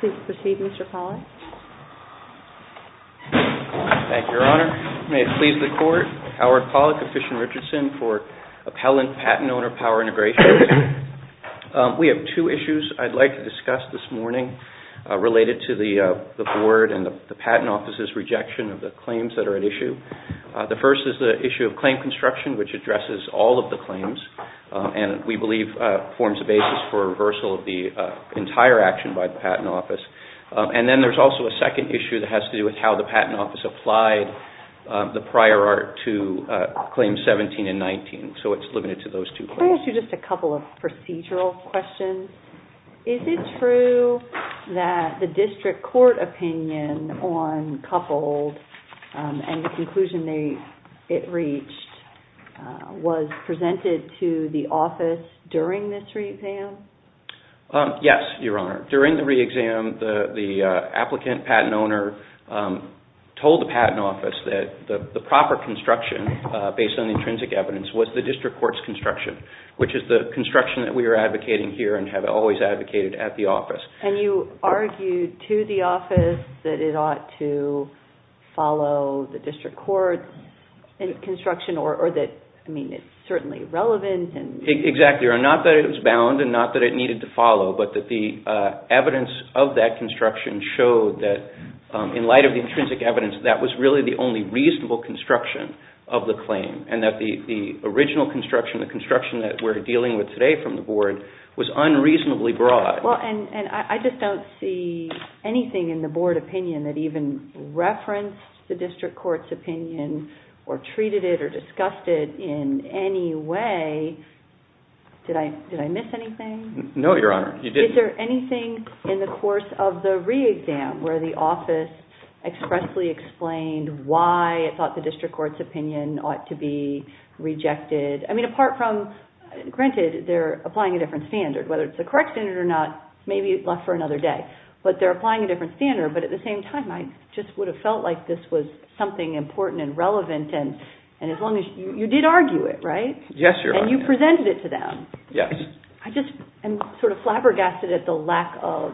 Please proceed, Mr. Pollack. Thank you, Your Honor. May it please the Court, Howard Pollack of Fish and Richardson for Appellant Patent Owner Power Integrations. We have two issues I'd like to discuss this morning related to the Board and the Patent Office's rejection of the claims that are at issue. The first is the issue of claim construction, which addresses all of the claims and we believe forms the basis for reversal of the entire action by the Patent Office. And then there's also a second issue that is how the Patent Office applied the prior art to Claims 17 and 19. So it's limited to those two claims. Can I ask you just a couple of procedural questions? Is it true that the District Court opinion on coupled and the conclusion it reached was presented to the Office during this re-exam? Yes, Your Honor. During the re-exam, the Applicant Patent Owner told the Patent Office that the proper construction, based on the intrinsic evidence, was the District Court's construction, which is the construction that we are advocating here and have always advocated at the Office. And you argued to the Office that it ought to follow the District Court's construction or that it's certainly relevant. Exactly, Your Honor. Not that it was bound and not that it needed to follow, but that the evidence of that construction showed that in light of the intrinsic evidence, that was really the only reasonable construction of the claim and that the original construction, the construction that we're dealing with today from the Board, was unreasonably broad. I just don't see anything in the Board opinion that even referenced the District Court's opinion or treated it or discussed it in any way. Did I miss anything? No, Your Honor. Is there anything in the course of the re-exam where the Office expressly explained why it thought the District Court's opinion ought to be rejected? I mean, apart from, granted, they're applying a different standard. Whether it's the correct standard or not, maybe it left for another day. But they're applying a different standard. But at the same time, I just would have felt like this was something important and relevant. You did argue it, right? Yes, Your Honor. And you presented it to them. Yes. I just am sort of flabbergasted at the lack of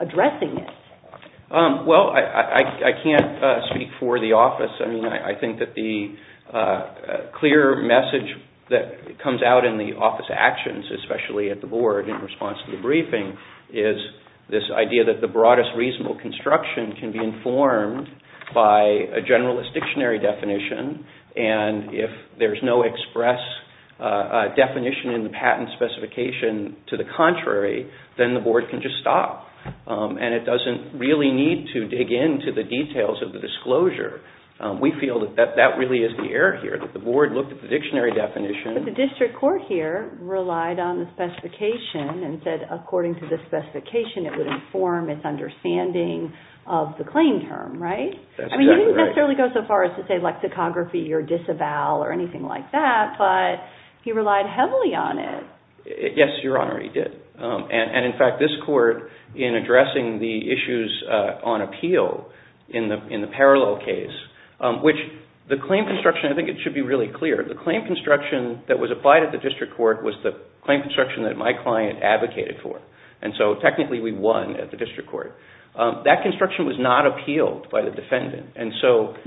addressing it. Well, I can't speak for the Office. I mean, I think that the clear message that comes out in the Office actions, especially at the Board in response to the briefing, is this broadest reasonable construction can be informed by a generalist dictionary definition. And if there's no express definition in the patent specification to the contrary, then the Board can just stop. And it doesn't really need to dig into the details of the disclosure. We feel that that really is the error here, that the Board looked at the dictionary definition. But the District Court here relied on the specification and said, according to the specification, it would inform its understanding of the claim term, right? That's exactly right. I mean, you didn't necessarily go so far as to say lexicography or disavow or anything like that. But he relied heavily on it. Yes, Your Honor, he did. And in fact, this Court, in addressing the issues on appeal in the parallel case, which the claim construction, I think it should be really clear, the claim construction that was applied at the District Court was the claim construction that my client advocated for. And so, technically, we won at the District Court. That construction was not appealed by the defendant.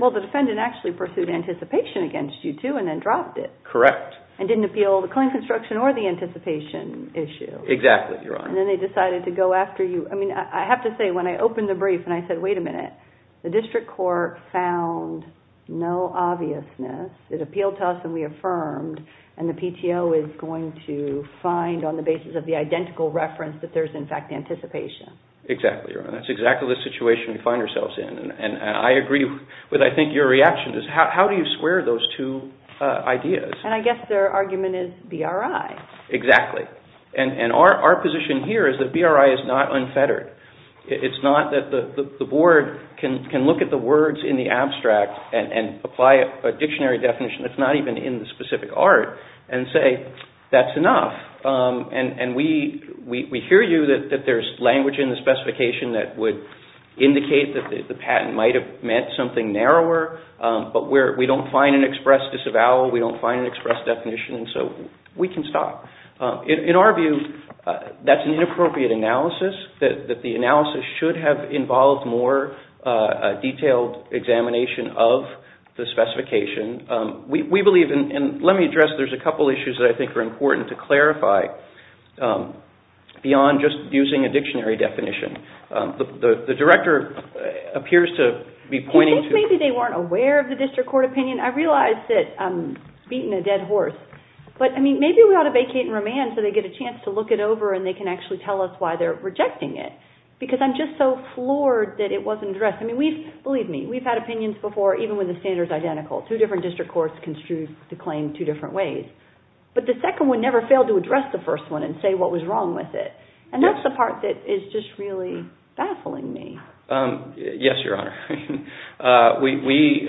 Well, the defendant actually pursued anticipation against you, too, and then dropped it. Correct. And didn't appeal the claim construction or the anticipation issue. Exactly, Your Honor. And then they decided to go after you. I mean, I have to say, when I opened the brief and I said, wait a minute, the District Court found no obviousness. It appealed to us and we affirmed. And the PTO is going to find on the basis of the identical reference that there's, in fact, anticipation. Exactly, Your Honor. That's exactly the situation we find ourselves in. And I agree with, I think, your reaction is, how do you square those two ideas? And I guess their argument is BRI. Exactly. And our position here is that BRI is not unfettered. It's not that the Board can look at the words in the abstract and apply a dictionary definition that's not even in the specific art and say, that's enough. And we hear you, that there's language in the specification that would indicate that the patent might have meant something narrower, but we don't find an express disavowal, we don't find an express definition, so we can stop. In our view, that's an inappropriate analysis, that the analysis should have involved more detailed examination of the specification. We believe, and let me address, there's a couple of issues that I think are important to clarify beyond just using a dictionary definition. The Director appears to be pointing to... Do you think maybe they weren't aware of the District Court opinion? I realize that I'm beating a dead horse, but maybe we ought to vacate and remand so they get a chance to look it over and they can actually tell us why they're rejecting it. Because I'm just so floored that it wasn't addressed. I mean, believe me, we've had opinions before even when the standard's identical. Two different District Courts construe the claim two different ways. But the second one never failed to address the first one and say what was wrong with it. And that's the part that is just really baffling me. Yes, Your Honor. We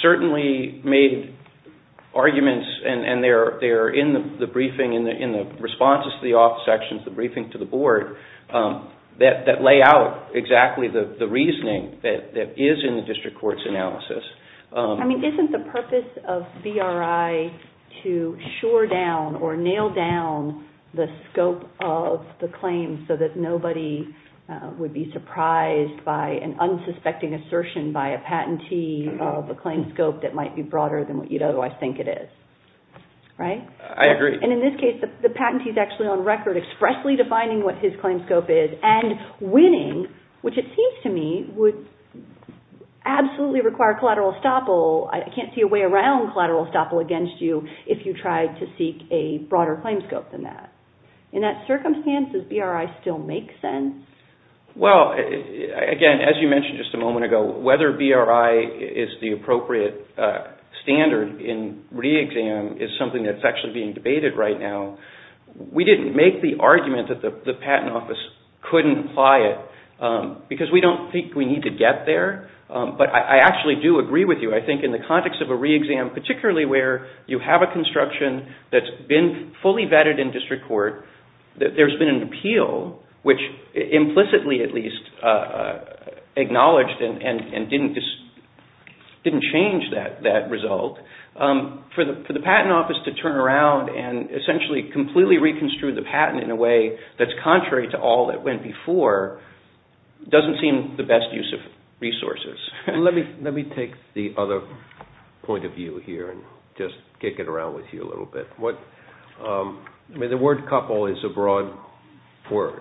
certainly made arguments, and they're in the briefing, in the responses to the office sections, the briefing to the Board, that lay out exactly the reasoning that is in the District Court's analysis. I mean, isn't the purpose of BRI to shore down or nail down the scope of the claim so that nobody would be surprised by an unsuspecting assertion by a patentee of a claim scope that might be broader than what you know, I think it is. Right? I agree. And in this case, the patentee's actually on record expressly defining what his claim scope is and winning, which it seems to me would absolutely require collateral estoppel. I can't see a way around collateral estoppel against you if you tried to seek a broader claim scope than that. In that circumstance, does BRI still make sense? Well, again, as you mentioned just a moment ago, whether BRI is the appropriate standard in re-exam is something that's actually being debated right now. We didn't make the argument that the Patent Office couldn't apply it, because we don't think we need to get there. But I actually do agree with you. I think in the context of a re-exam, particularly where you have a construction that's been fully vetted in District Court, that there's been an appeal, which implicitly at least acknowledged and didn't change that result, for the Patent Office to turn around and essentially completely reconstruct the patent in a way that's contrary to all that went before doesn't seem the best use of resources. Let me take the other point of view here and just kick it around with you a little bit. The word couple is a broad word,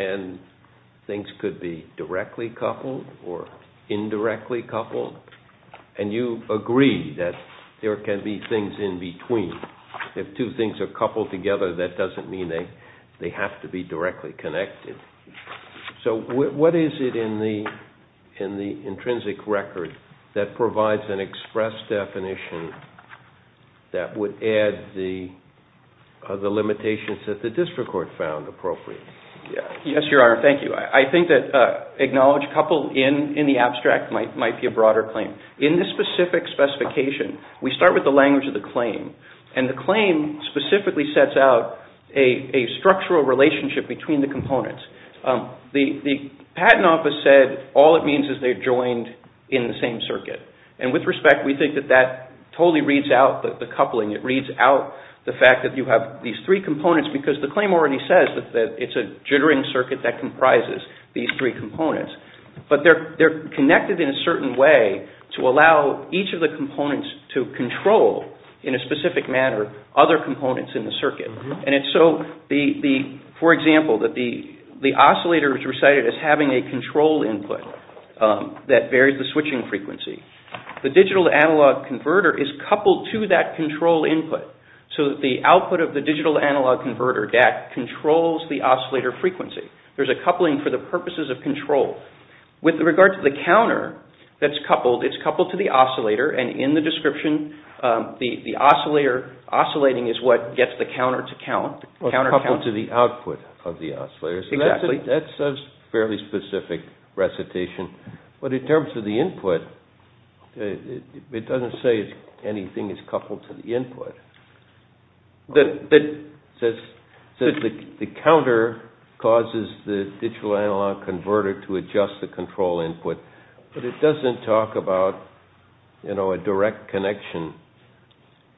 and things could be directly coupled or indirectly coupled, and you agree that there can be things in between. If two things are coupled together, that doesn't mean they have to be directly connected. What is it in the intrinsic record that provides an express definition that would add the limitations that the District Court found appropriate? Yes, Your Honor. Thank you. I think that acknowledge couple in the abstract might be a broader claim. In this specific specification, we start with the language of the claim, and the claim specifically sets out a structural relationship between the components. The Patent Office said all it means is they're joined in the same circuit. With respect, we think that that totally reads out the coupling. It reads out the fact that you have these three components because the claim already says that it's a jittering circuit that comprises these three components, but they're connected in a certain way to allow each of the components to control, in a specific manner, other components in the circuit. For example, the oscillator is recited as having a control input that varies the switching frequency. The digital-to-analog converter is coupled to that control input so that the output of the digital-to-analog converter DAC controls the oscillator frequency. There's a coupling for the purposes of control. With regard to the counter that's coupled, it's coupled to the oscillator, and in the description, the oscillator oscillating is what gets the counter to count. Coupled to the output of the oscillator. That's a fairly specific recitation, but in terms of the input, it doesn't say anything is coupled to the input. It says the counter causes the digital-to-analog converter to adjust the control input, but it doesn't talk about a direct connection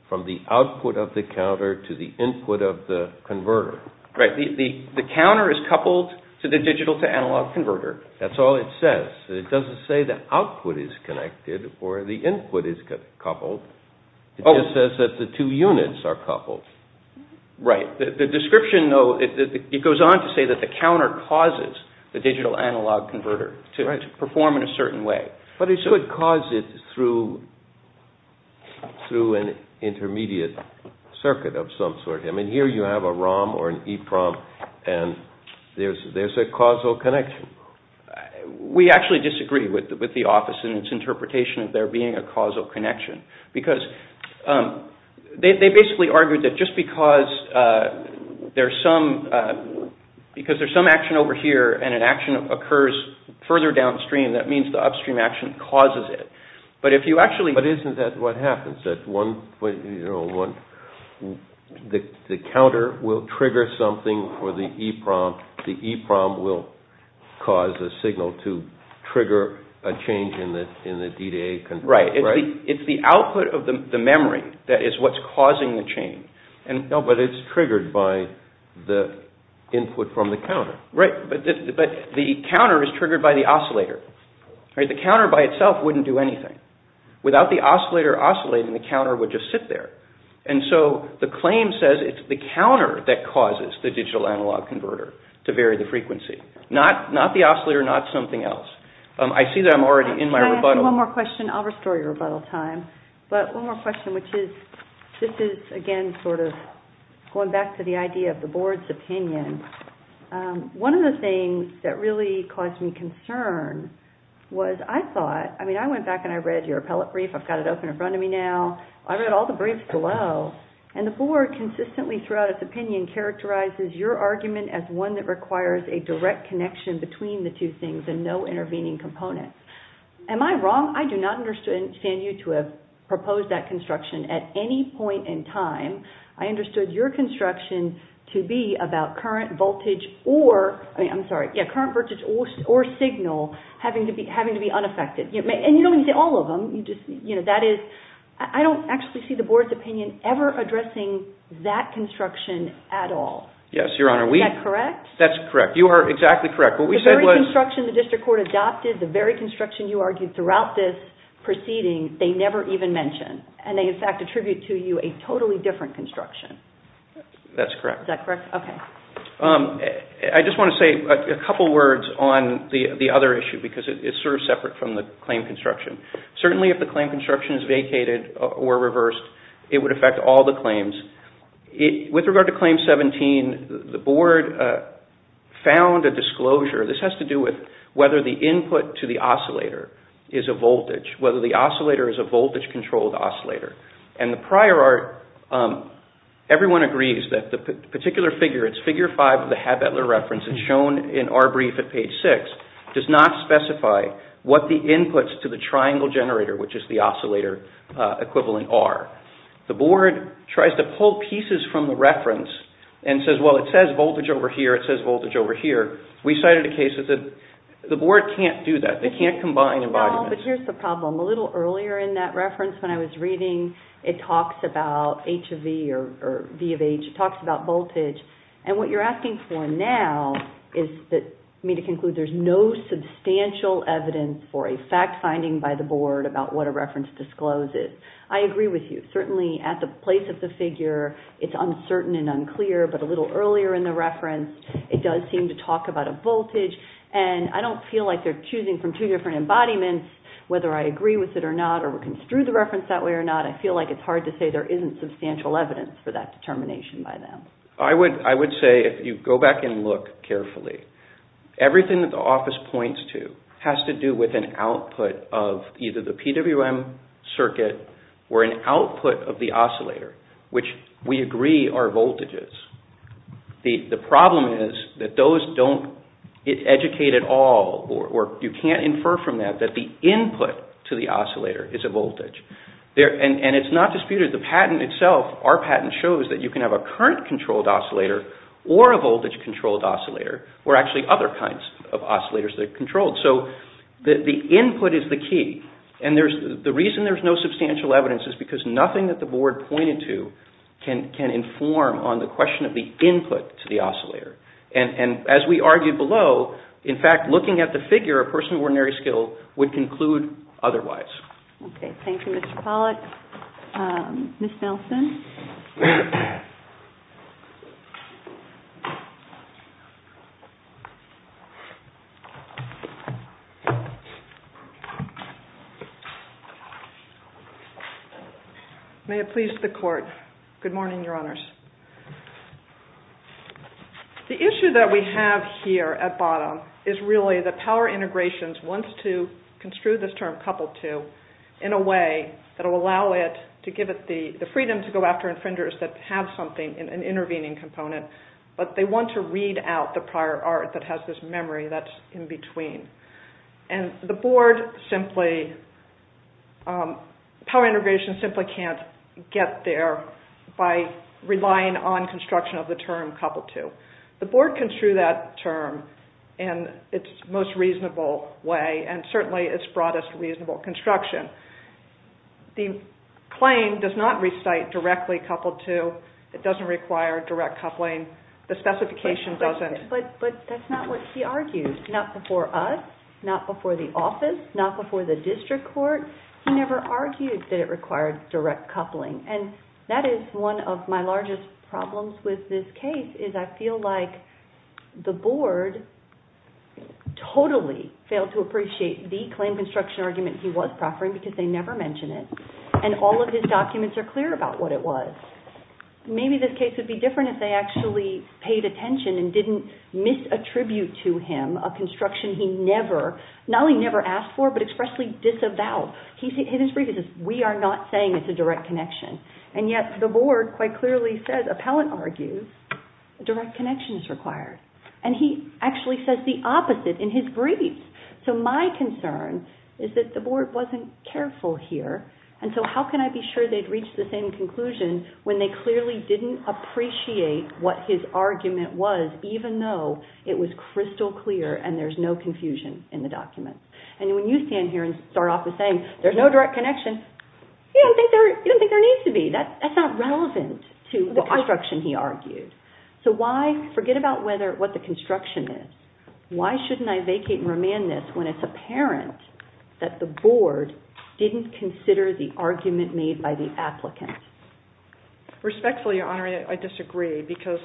from the output of the counter to the input of the converter. The counter is coupled to the digital-to-analog converter. That's all it says. It doesn't say the output is connected or the input is coupled. It just says that the two units are coupled. Right. The description, though, it goes on to say that the counter causes the digital-to-analog converter to perform in a certain way. But it could cause it through an intermediate circuit of some sort. I mean, here you have a ROM or an EPROM, and there's a causal connection. We actually disagree with the office in its interpretation of there being a causal connection, because they basically argued that just because there's some action over here and an action occurs further downstream, that means the upstream action causes it. But isn't that what happens? The counter will trigger something for the EPROM. The EPROM will cause a signal to trigger a change in the D-to-A converter, right? It's the output of the memory that is what's causing the change. No, but it's triggered by the input from the counter. Right. But the counter is triggered by the oscillator. The counter by itself wouldn't do anything. Without the oscillator oscillating, the counter would just sit there. And so the claim says it's the counter that causes the digital-to-analog converter to vary the frequency, not the oscillator, not something else. I see that I'm already in my rebuttal. One more question. I'll restore your rebuttal time. But one more question, which is, this is, again, sort of going back to the idea of the board's opinion. One of the things that really caused me concern was I thought, I mean, I went back and I read your appellate brief. I've got it open in front of me now. I read all the briefs below, and the board consistently throughout its opinion characterizes your argument as one that requires a direct connection between the two things and no intervening component. Am I wrong? I do not understand you to have proposed that construction at any point in time. I understood your construction to be about current voltage or, I mean, I'm sorry, yeah, current voltage or signal having to be unaffected. And you don't even say all of them. You just, you know, that is, I don't actually see the board's opinion ever addressing that construction at all. Yes, Your Honor, we... Is that correct? That's correct. You are exactly correct. What we said was... When the district court adopted the very construction you argued throughout this proceeding, they never even mentioned. And they, in fact, attribute to you a totally different construction. That's correct. Is that correct? Okay. I just want to say a couple of words on the other issue because it's sort of separate from the claim construction. Certainly, if the claim construction is vacated or reversed, it would affect all the claims. With regard to Claim 17, the board found a disclosure. This has to do with whether the input to the oscillator is a voltage, whether the oscillator is a voltage-controlled oscillator. And the prior art, everyone agrees that the particular figure, it's figure 5 of the Habetler reference, it's shown in our brief at page 6, does not specify what the inputs to the triangle generator, which is the oscillator equivalent, are. The board tries to pull pieces from the reference and says, well, it says voltage over here, or it says voltage over here. We cited a case that the board can't do that. They can't combine embodiments. No, but here's the problem. A little earlier in that reference when I was reading, it talks about H of V or V of H. It talks about voltage. And what you're asking for now is for me to conclude there's no substantial evidence for a fact-finding by the board about what a reference discloses. I agree with you. Certainly, at the place of the figure, it's uncertain and it does seem to talk about a voltage. And I don't feel like they're choosing from two different embodiments, whether I agree with it or not, or construe the reference that way or not. I feel like it's hard to say there isn't substantial evidence for that determination by them. I would say, if you go back and look carefully, everything that the office points to has to do with an output of either the PWM circuit or an output of the oscillator, which we agree are voltages. The problem is that those don't educate at all, or you can't infer from that that the input to the oscillator is a voltage. And it's not disputed. The patent itself, our patent, shows that you can have a current-controlled oscillator or a voltage-controlled oscillator, or actually other kinds of oscillators that are controlled. So the input is the key. And the reason there's no substantial evidence is because nothing that the board pointed to can inform on the question of the input to the oscillator. And as we argued below, in fact, looking at the figure, a person with ordinary skill would conclude otherwise. Okay. Thank you, Mr. Pollack. Ms. Nelson? May it please the Court. Good morning, Your Honors. The issue that we have here at bottom is really that power integrations wants to construe this term, couple to, in a way that gives it the freedom to go after infringers that have something, an intervening component, but they want to read out the prior art that has this memory that's in between. And the board simply, power integration simply can't get there by relying on construction of the term couple to. The board construed that term in its most reasonable way, and certainly its broadest reasonable construction. The claim does not recite directly couple to. It doesn't require direct coupling. The specification doesn't. But that's not what he argued. Not before us, not before the office, not before the district court. He never argued that it required direct coupling. And that is one of my largest problems with this case, is I feel like the board totally failed to appreciate the claim construction argument he was proffering, because they never mention it, and all of his documents are clear about what it was. Maybe this case would be different if they actually paid attention and didn't misattribute to him a construction he never, not only never asked for, but expressly disavowed. In his brief, he says, we are not saying it's a direct connection. And yet the board quite clearly says, appellant argues, direct connection is required. And he actually says the opposite in his brief. So my concern is that the board wasn't careful here, and so how can I be sure they'd reach the same conclusion when they clearly didn't appreciate what his argument was, even though it was crystal clear and there's no confusion in the documents. And when you stand here and start off with saying there's no direct connection, you don't think there needs to be. That's not relevant to the construction he argued. So why, forget about what the construction is, why shouldn't I vacate and remand this when it's apparent that the board didn't consider the argument made by the applicant? Respectfully, Your Honor, I disagree, because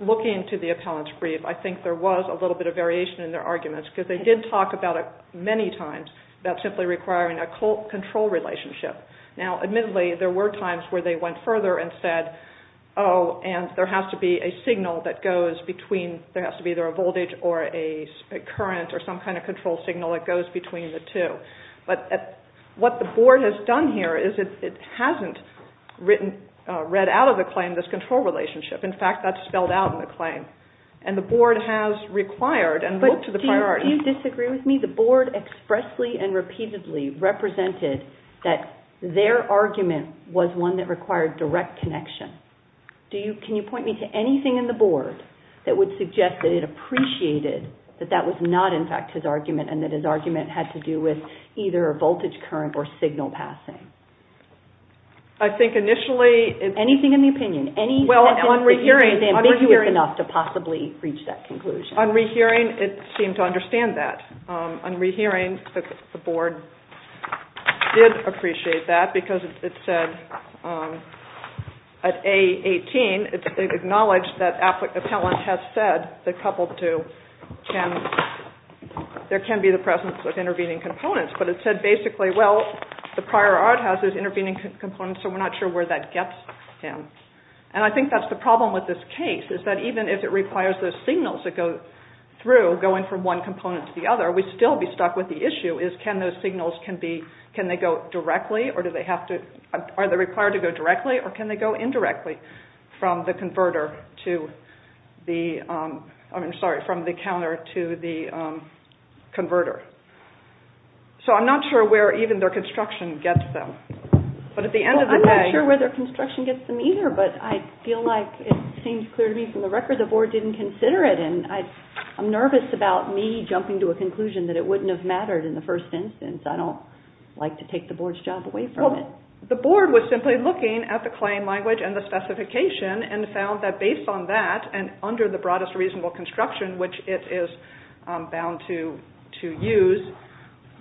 looking to the appellant's brief, I think there was a little bit of variation in their arguments, because they did talk about it many times, about simply requiring a control relationship. Now, admittedly, there were times where they went further and said, oh, and there has to be a signal that goes between, there has to be either a voltage or a current or some kind of control signal that goes between the two. But what the board has done here is it hasn't written, read out of the claim this control relationship. In fact, that's spelled out in the claim. And the board has required and looked to the priority. But do you disagree with me? The board expressly and repeatedly represented that their argument was one that required direct connection. Can you point me to anything in the board that would suggest that it appreciated that that was not, in fact, his argument and that his argument had to do with either a voltage current or signal passing? I think initially... Anything in the opinion. Well, on rehearing, it seemed to understand that. On rehearing, the board did appreciate that because it said at A18, it acknowledged that Appellant has said that coupled to can, there can be the presence of intervening components. But it said basically, well, the prior art has those intervening components, so we're not sure where that gets him. And I think that's the problem with this case, is that even if it requires those signals that go through, going from one component to the other, we'd still be stuck with the issue is can those signals be, can they go directly or do they have to, are they required to go directly or can they go indirectly from the converter to the, I'm sorry, from the counter to the converter. So I'm not sure where even their construction gets them. But at the end of the day... I'm not sure where their construction gets them either, but I feel like it seems clear to me from the record, the board didn't consider it. And I'm nervous about me jumping to a conclusion, since I don't like to take the board's job away from it. The board was simply looking at the claim language and the specification and found that based on that and under the broadest reasonable construction, which it is bound to use,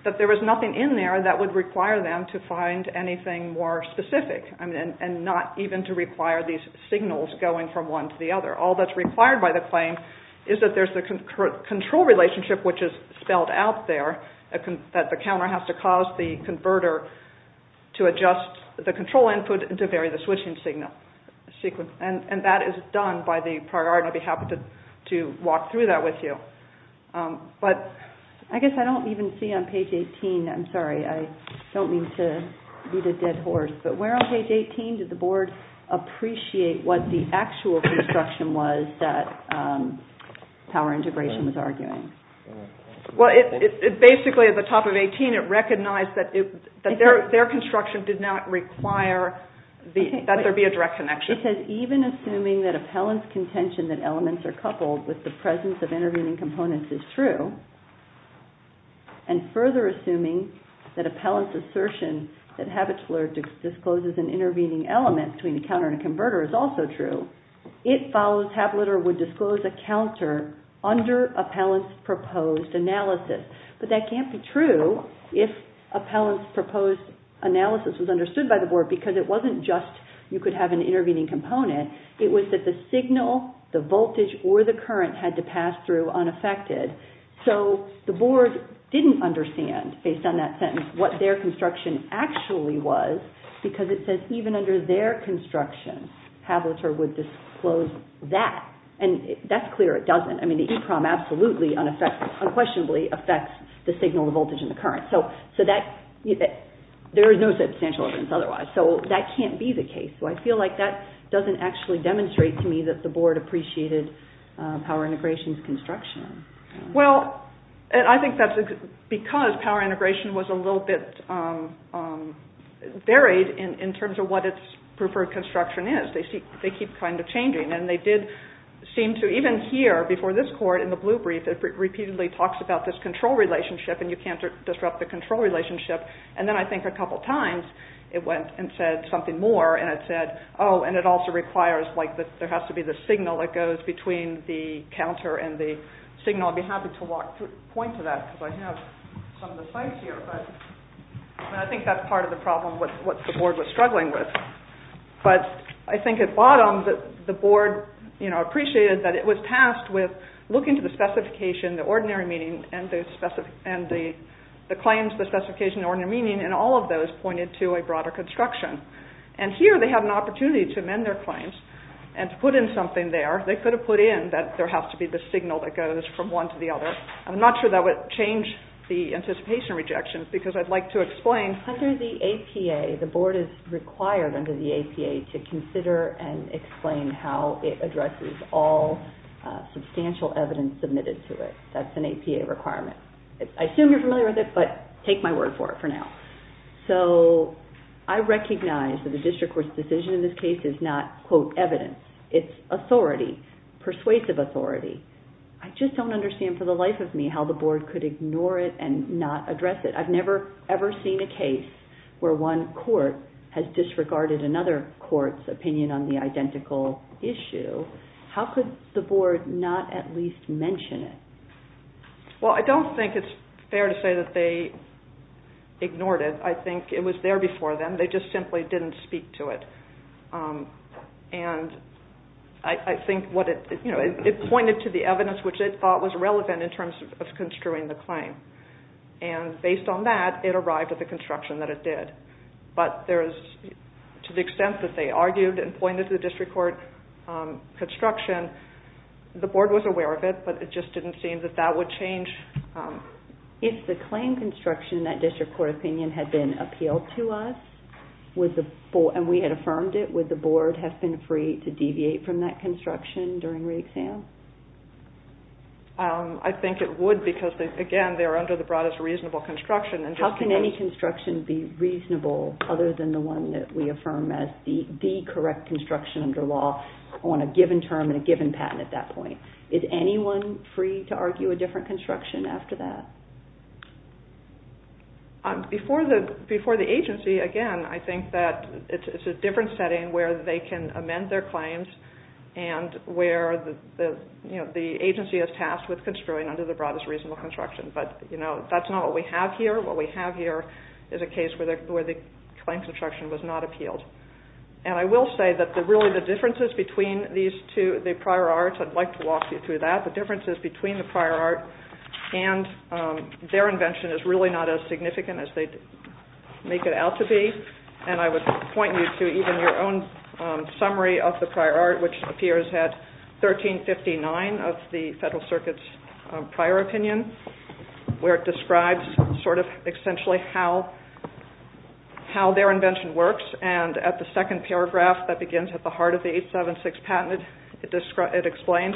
that there was nothing in there that would require them to find anything more specific and not even to require these signals going from one to the other. All that's required by the claim is that there's the control relationship, which is spelled out there, that the counter has to cause the converter to adjust the control input to vary the switching signal sequence. And that is done by the priority. I'd be happy to walk through that with you. But I guess I don't even see on page 18, I'm sorry, I don't mean to be the dead horse, but where on page 18 did the board appreciate what the actual construction was that Power Integration was arguing? Well, it basically at the top of 18, it recognized that their construction did not require that there be a direct connection. It says, even assuming that appellant's contention that elements are coupled with the presence of intervening components is true, and further assuming that appellant's assertion that a tabular discloses an intervening element between a counter and a converter is also true, it follows tabular would disclose a counter under appellant's proposed analysis. But that can't be true if appellant's proposed analysis was understood by the board because it wasn't just you could have an intervening component, it was that the signal, the voltage or the current had to pass through unaffected. So the board didn't understand, based on that sentence, what their construction actually was because it says even under their construction, appellant would disclose that. And that's clear, it doesn't, I mean, the EEPROM absolutely unquestionably affects the signal, the voltage and the current, so there is no substantial evidence otherwise. So that can't be the case, so I feel like that doesn't actually demonstrate to me that the board appreciated power integration's construction. Well, I think that's because power integration was a little bit varied in terms of what its preferred construction is, they keep kind of changing, and they did seem to, even here before this court in the blue brief, it repeatedly talks about this control relationship and you can't disrupt the control relationship, and then I think a couple of times it went and said something more, and it said, oh, and it also requires, like, there has to be the signal that goes between the counter and the signal, I'd be happy to walk through, point to that, because I have some of the sites here, but I think that's part of the problem, what the board was struggling with. But I think at bottom, the board, you know, appreciated that it was tasked with looking to the specification, the ordinary meaning, and the claims, the specification, the ordinary meaning, and all of those pointed to a broader construction. And here, they have an opportunity to amend their claims and to put in something there, they could have put in that there has to be the signal that goes from one to the other. I'm not sure that would change the anticipation rejections, because I'd like to explain. Under the APA, the board is required under the APA to consider and explain how it addresses all substantial evidence submitted to it, that's an APA requirement. I assume you're familiar with it, but take my word for it for now. So, I recognize that the district court's decision in this case is not, quote, evidence, it's authority, persuasive authority, I just don't understand for the life of me how the board could ignore it and not address it, I've never ever seen a case where one court has disregarded another court's opinion on the identical issue, how could the board not at least mention it? Well, I don't think it's fair to say that they ignored it, I think it was there before them, they just simply didn't speak to it. And I think what it, you know, it pointed to the evidence which they thought was relevant in terms of construing the claim, and based on that, it arrived at the construction that it did. But there's, to the extent that they argued and pointed to the district court construction, the board was aware of it, but it just didn't seem that that would change. If the claim construction in that district court opinion had been appealed to us, and we had affirmed it, would the board have been free to deviate from that construction during re-exam? I think it would, because, again, they're under the broadest reasonable construction and just because... How can any construction be reasonable other than the one that we affirm as the correct construction under law on a given term and a given patent at that point? Is anyone free to argue a different construction after that? Before the agency, again, I think that it's a different setting where they can amend their claims and where the agency is tasked with construing under the broadest reasonable construction, but that's not what we have here. What we have here is a case where the claim construction was not appealed. I will say that really the differences between these two, the prior arts, I'd like to walk you through that. The differences between the prior art and their invention is really not as significant as they make it out to be. I would point you to even your own summary of the prior art, which appears at 1359 of the Federal Circuit's prior opinion, where it describes sort of essentially how their invention works and at the second paragraph that begins at the heart of the 876 patent, it explains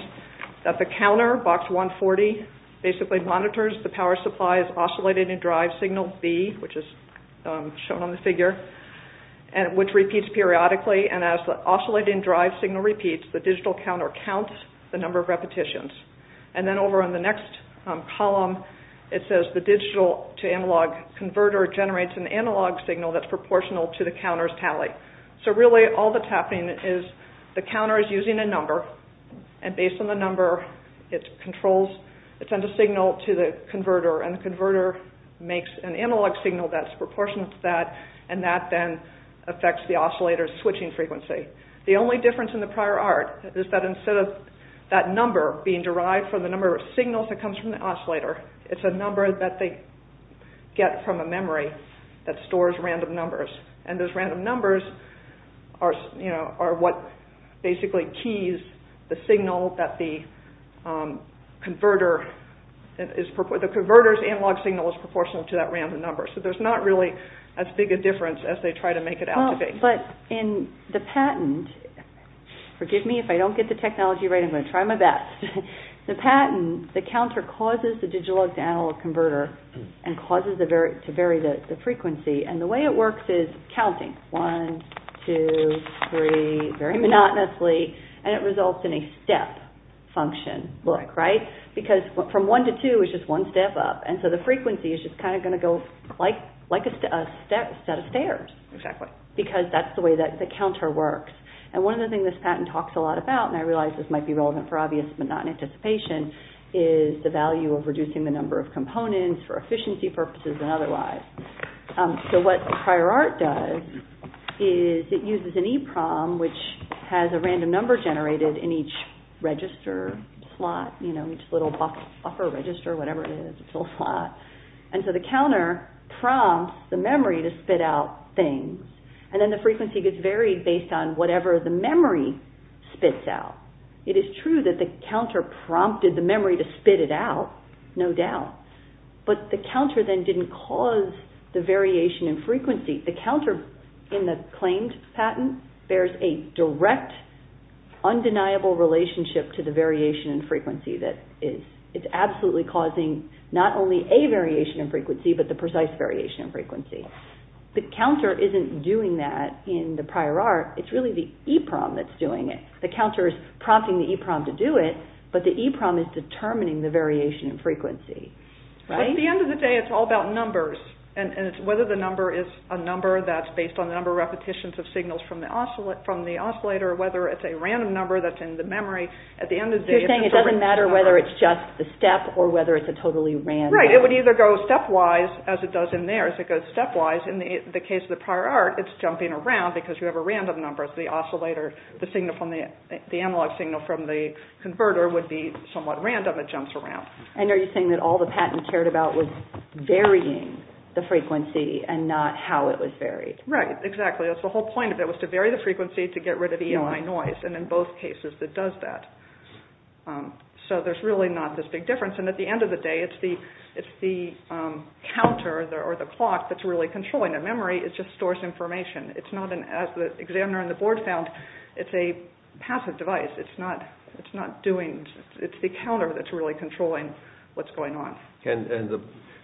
that the counter, box 140, basically monitors the power supply's oscillating drive signal B, which is shown on the figure, which repeats periodically and as the oscillating drive signal repeats, the digital counter counts the number of repetitions. And then over on the next column, it says the digital to analog converter generates an analog signal that's proportional to the counter's tally. So really all that's happening is the counter is using a number and based on the number, it controls, it sends a signal to the converter and the converter makes an analog signal that's proportional to that and that then affects the oscillator's switching frequency. The only difference in the prior art is that instead of that number being derived from the number of signals that comes from the oscillator, it's a number that they get from a memory that stores random numbers and those random numbers are what basically keys the signal that the converter, the converter's analog signal is proportional to that random number. So there's not really as big a difference as they try to make it out to be. But in the patent, forgive me if I don't get the technology right, I'm going to try my best. The patent, the counter causes the digital to analog converter and causes it to vary the frequency and the way it works is counting, one, two, three, very monotonously and it results in a step function look, right? Because from one to two is just one step up and so the frequency is just kind of going to go like a set of stairs because that's the way that the counter works. And one of the things this patent talks a lot about, and I realize this might be relevant for obvious but not in anticipation, is the value of reducing the number of components for efficiency purposes and otherwise. So what prior art does is it uses an EPROM which has a random number generated in each register slot, you know, each little buffer register, whatever it is, it's a little slot. And so the counter prompts the memory to spit out things and then the frequency gets varied based on whatever the memory spits out. It is true that the counter prompted the memory to spit it out, no doubt, but the counter then didn't cause the variation in frequency. The counter in the claimed patent bears a direct undeniable relationship to the variation in frequency that is, it's absolutely causing not only a variation in frequency but the precise variation in frequency. The counter isn't doing that in the prior art, it's really the EPROM that's doing it. The counter is prompting the EPROM to do it, but the EPROM is determining the variation in frequency. Right? At the end of the day, it's all about numbers, and it's whether the number is a number that's based on the number of repetitions of signals from the oscillator, whether it's a random number that's in the memory. At the end of the day... So you're saying it doesn't matter whether it's just the step or whether it's a totally random... Right. It would either go stepwise, as it does in there, as it goes stepwise. In the case of the prior art, it's jumping around because you have a random number as the oscillator, the signal from the, the analog signal from the converter would be somewhat random. It jumps around. And are you saying that all the patent cared about was varying the frequency and not how it was varied? Right. Exactly. That's the whole point of it, was to vary the frequency to get rid of EMI noise, and in both cases, it does that. So there's really not this big difference, and at the end of the day, it's the counter or the clock that's really controlling the memory, it just stores information. It's not an... As the examiner and the board found, it's a passive device. It's not, it's not doing... It's the counter that's really controlling what's going on. And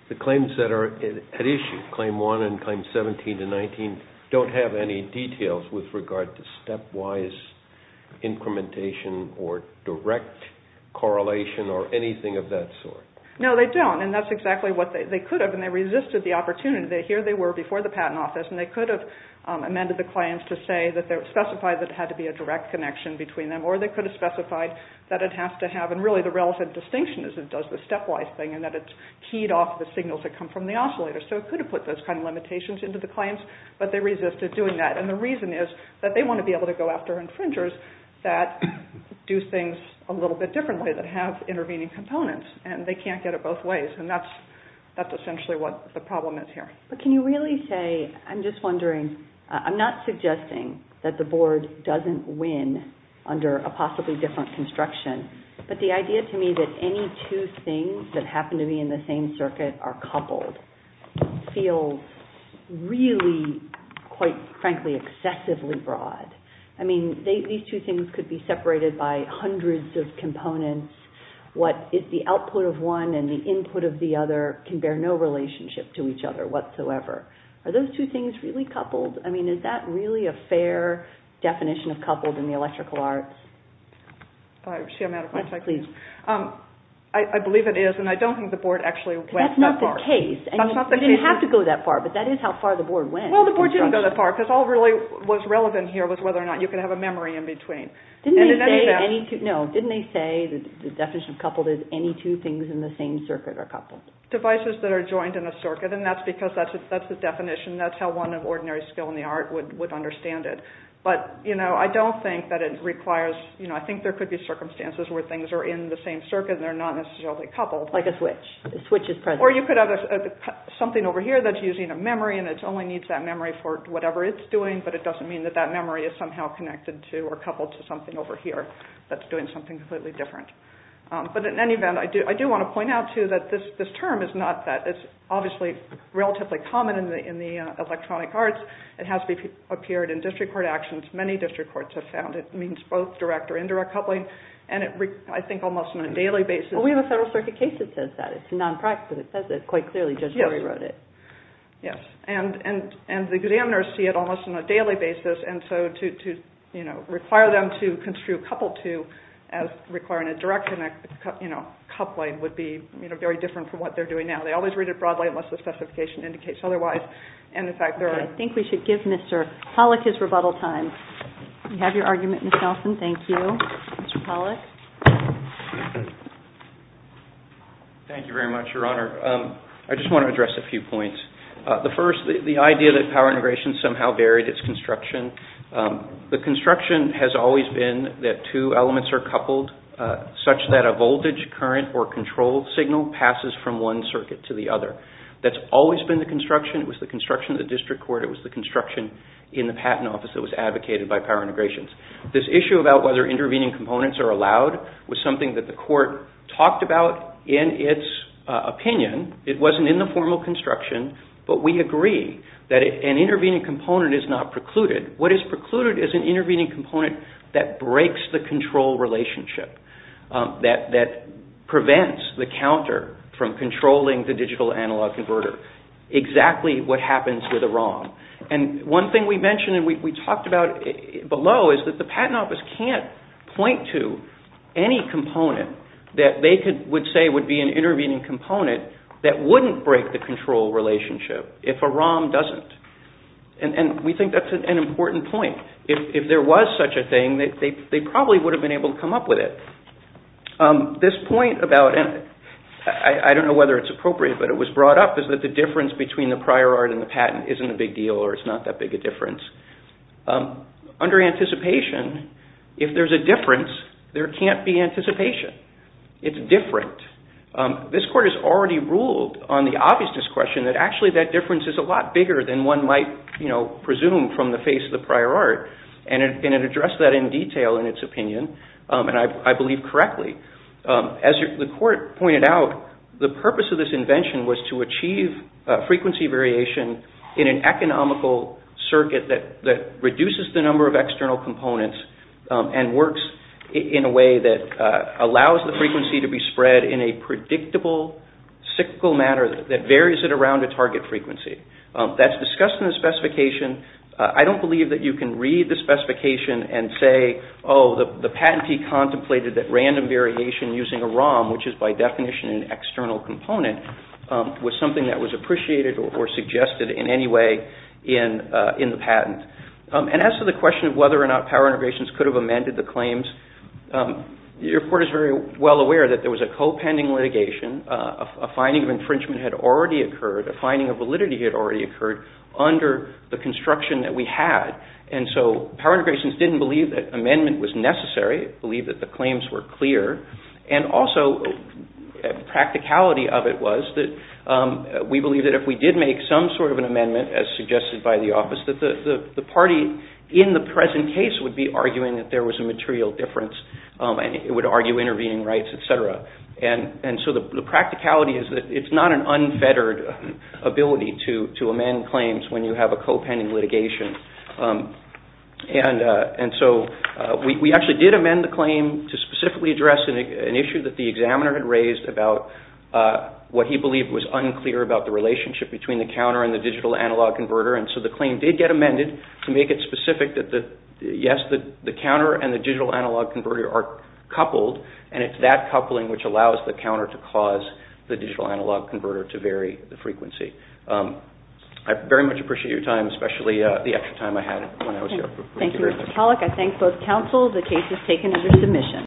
the claims that are at issue, Claim 1 and Claim 17 and 19, don't have any details with regard to stepwise incrementation or direct correlation or anything of that sort? No, they don't, and that's exactly what they could have, and they resisted the opportunity. Here they were before the patent office, and they could have amended the claims to say that they specified that it had to be a direct connection between them, or they could have specified that it has to have, and really, the relevant distinction is it does the stepwise thing and that it's keyed off the signals that come from the oscillator, so it could have put those kind of limitations into the claims, but they resisted doing that, and the reason is that they want to be able to go after infringers that do things a little bit differently, that have intervening components, and they can't get it both ways, and that's essentially what the problem is here. But can you really say, I'm just wondering, I'm not suggesting that the board doesn't win under a possibly different construction, but the idea to me that any two things that happen to be in the same circuit are coupled feels really, quite frankly, excessively broad. I mean, these two things could be separated by hundreds of components. What is the output of one and the input of the other can bear no relationship to each other whatsoever. Are those two things really coupled? I mean, is that really a fair definition of coupled in the electrical arts? I believe it is, and I don't think the board actually went that far. That's not the case. That's not the case. You didn't have to go that far, but that is how far the board went. Well, the board didn't go that far, because all that really was relevant here was whether or not you could have a memory in between. Didn't they say the definition of coupled is any two things in the same circuit are coupled? Devices that are joined in a circuit, and that's because that's the definition. That's how one of ordinary skill in the art would understand it. But, you know, I don't think that it requires, you know, I think there could be circumstances where things are in the same circuit and they're not necessarily coupled. Like a switch. A switch is present. Or you could have something over here that's using a memory and it only needs that memory for whatever it's doing, but it doesn't mean that that memory is somehow connected to or to something over here that's doing something completely different. But, in any event, I do want to point out, too, that this term is not that. It's obviously relatively common in the electronic arts. It has appeared in district court actions. Many district courts have found it means both direct or indirect coupling, and I think almost on a daily basis. Well, we have a Federal Circuit case that says that. It's non-practical. It says it quite clearly. Judge Murray wrote it. Yes. And the examiners see it almost on a daily basis, and so to, you know, require them to construe coupled to as requiring a direct coupling would be, you know, very different from what they're doing now. They always read it broadly unless the specification indicates otherwise. And, in fact, there are... I think we should give Mr. Pollack his rebuttal time. You have your argument, Ms. Nelson. Thank you. Mr. Pollack. Thank you very much, Your Honor. I just want to address a few points. The first, the idea that power integration somehow varied its construction. The construction has always been that two elements are coupled such that a voltage, current, or control signal passes from one circuit to the other. That's always been the construction. It was the construction of the district court. It was the construction in the Patent Office that was advocated by power integrations. This issue about whether intervening components are allowed was something that the court talked about in its opinion. It wasn't in the formal construction, but we agree that an intervening component is not precluded. What is precluded is an intervening component that breaks the control relationship, that prevents the counter from controlling the digital analog converter, exactly what happens with a ROM. And one thing we mentioned and we talked about below is that the Patent Office can't point to any component that they would say would be an intervening component that wouldn't break the control relationship if a ROM doesn't. And we think that's an important point. If there was such a thing, they probably would have been able to come up with it. This point about, and I don't know whether it's appropriate, but it was brought up, is that the difference between the prior art and the patent isn't a big deal or it's not that big a difference. Under anticipation, if there's a difference, there can't be anticipation. It's different. This court has already ruled on the obviousness question that actually that difference is a lot bigger than one might presume from the face of the prior art, and it addressed that in detail in its opinion, and I believe correctly. As the court pointed out, the purpose of this invention was to achieve frequency variation in an economical circuit that reduces the number of external components and works in a way that allows the frequency to be spread in a predictable cyclical manner that varies it around a target frequency. That's discussed in the specification. I don't believe that you can read the specification and say, oh, the patentee contemplated that random variation using a ROM, which is by definition an external component, was something that was appreciated or suggested in any way in the patent. And as to the question of whether or not power integrations could have amended the claims, your court is very well aware that there was a co-pending litigation, a finding of infringement had already occurred, a finding of validity had already occurred under the construction that we had, and so power integrations didn't believe that amendment was necessary. They believed that the claims were clear, and also practicality of it was that we believe that if we did make some sort of an amendment, as suggested by the office, that the party in the present case would be arguing that there was a material difference, and it would argue intervening rights, et cetera. And so the practicality is that it's not an unfettered ability to amend claims when you have a co-pending litigation. And so we actually did amend the claim to specifically address an issue that the examiner had raised about what he believed was unclear about the relationship between the counter and the digital analog converter, and so the claim did get amended to make it specific that yes, the counter and the digital analog converter are coupled, and it's that coupling which allows the counter to cause the digital analog converter to vary the frequency. I very much appreciate your time, especially the extra time I had when I was here. Thank you, Mr. Pollack. I thank both counsel. The case is taken under submission.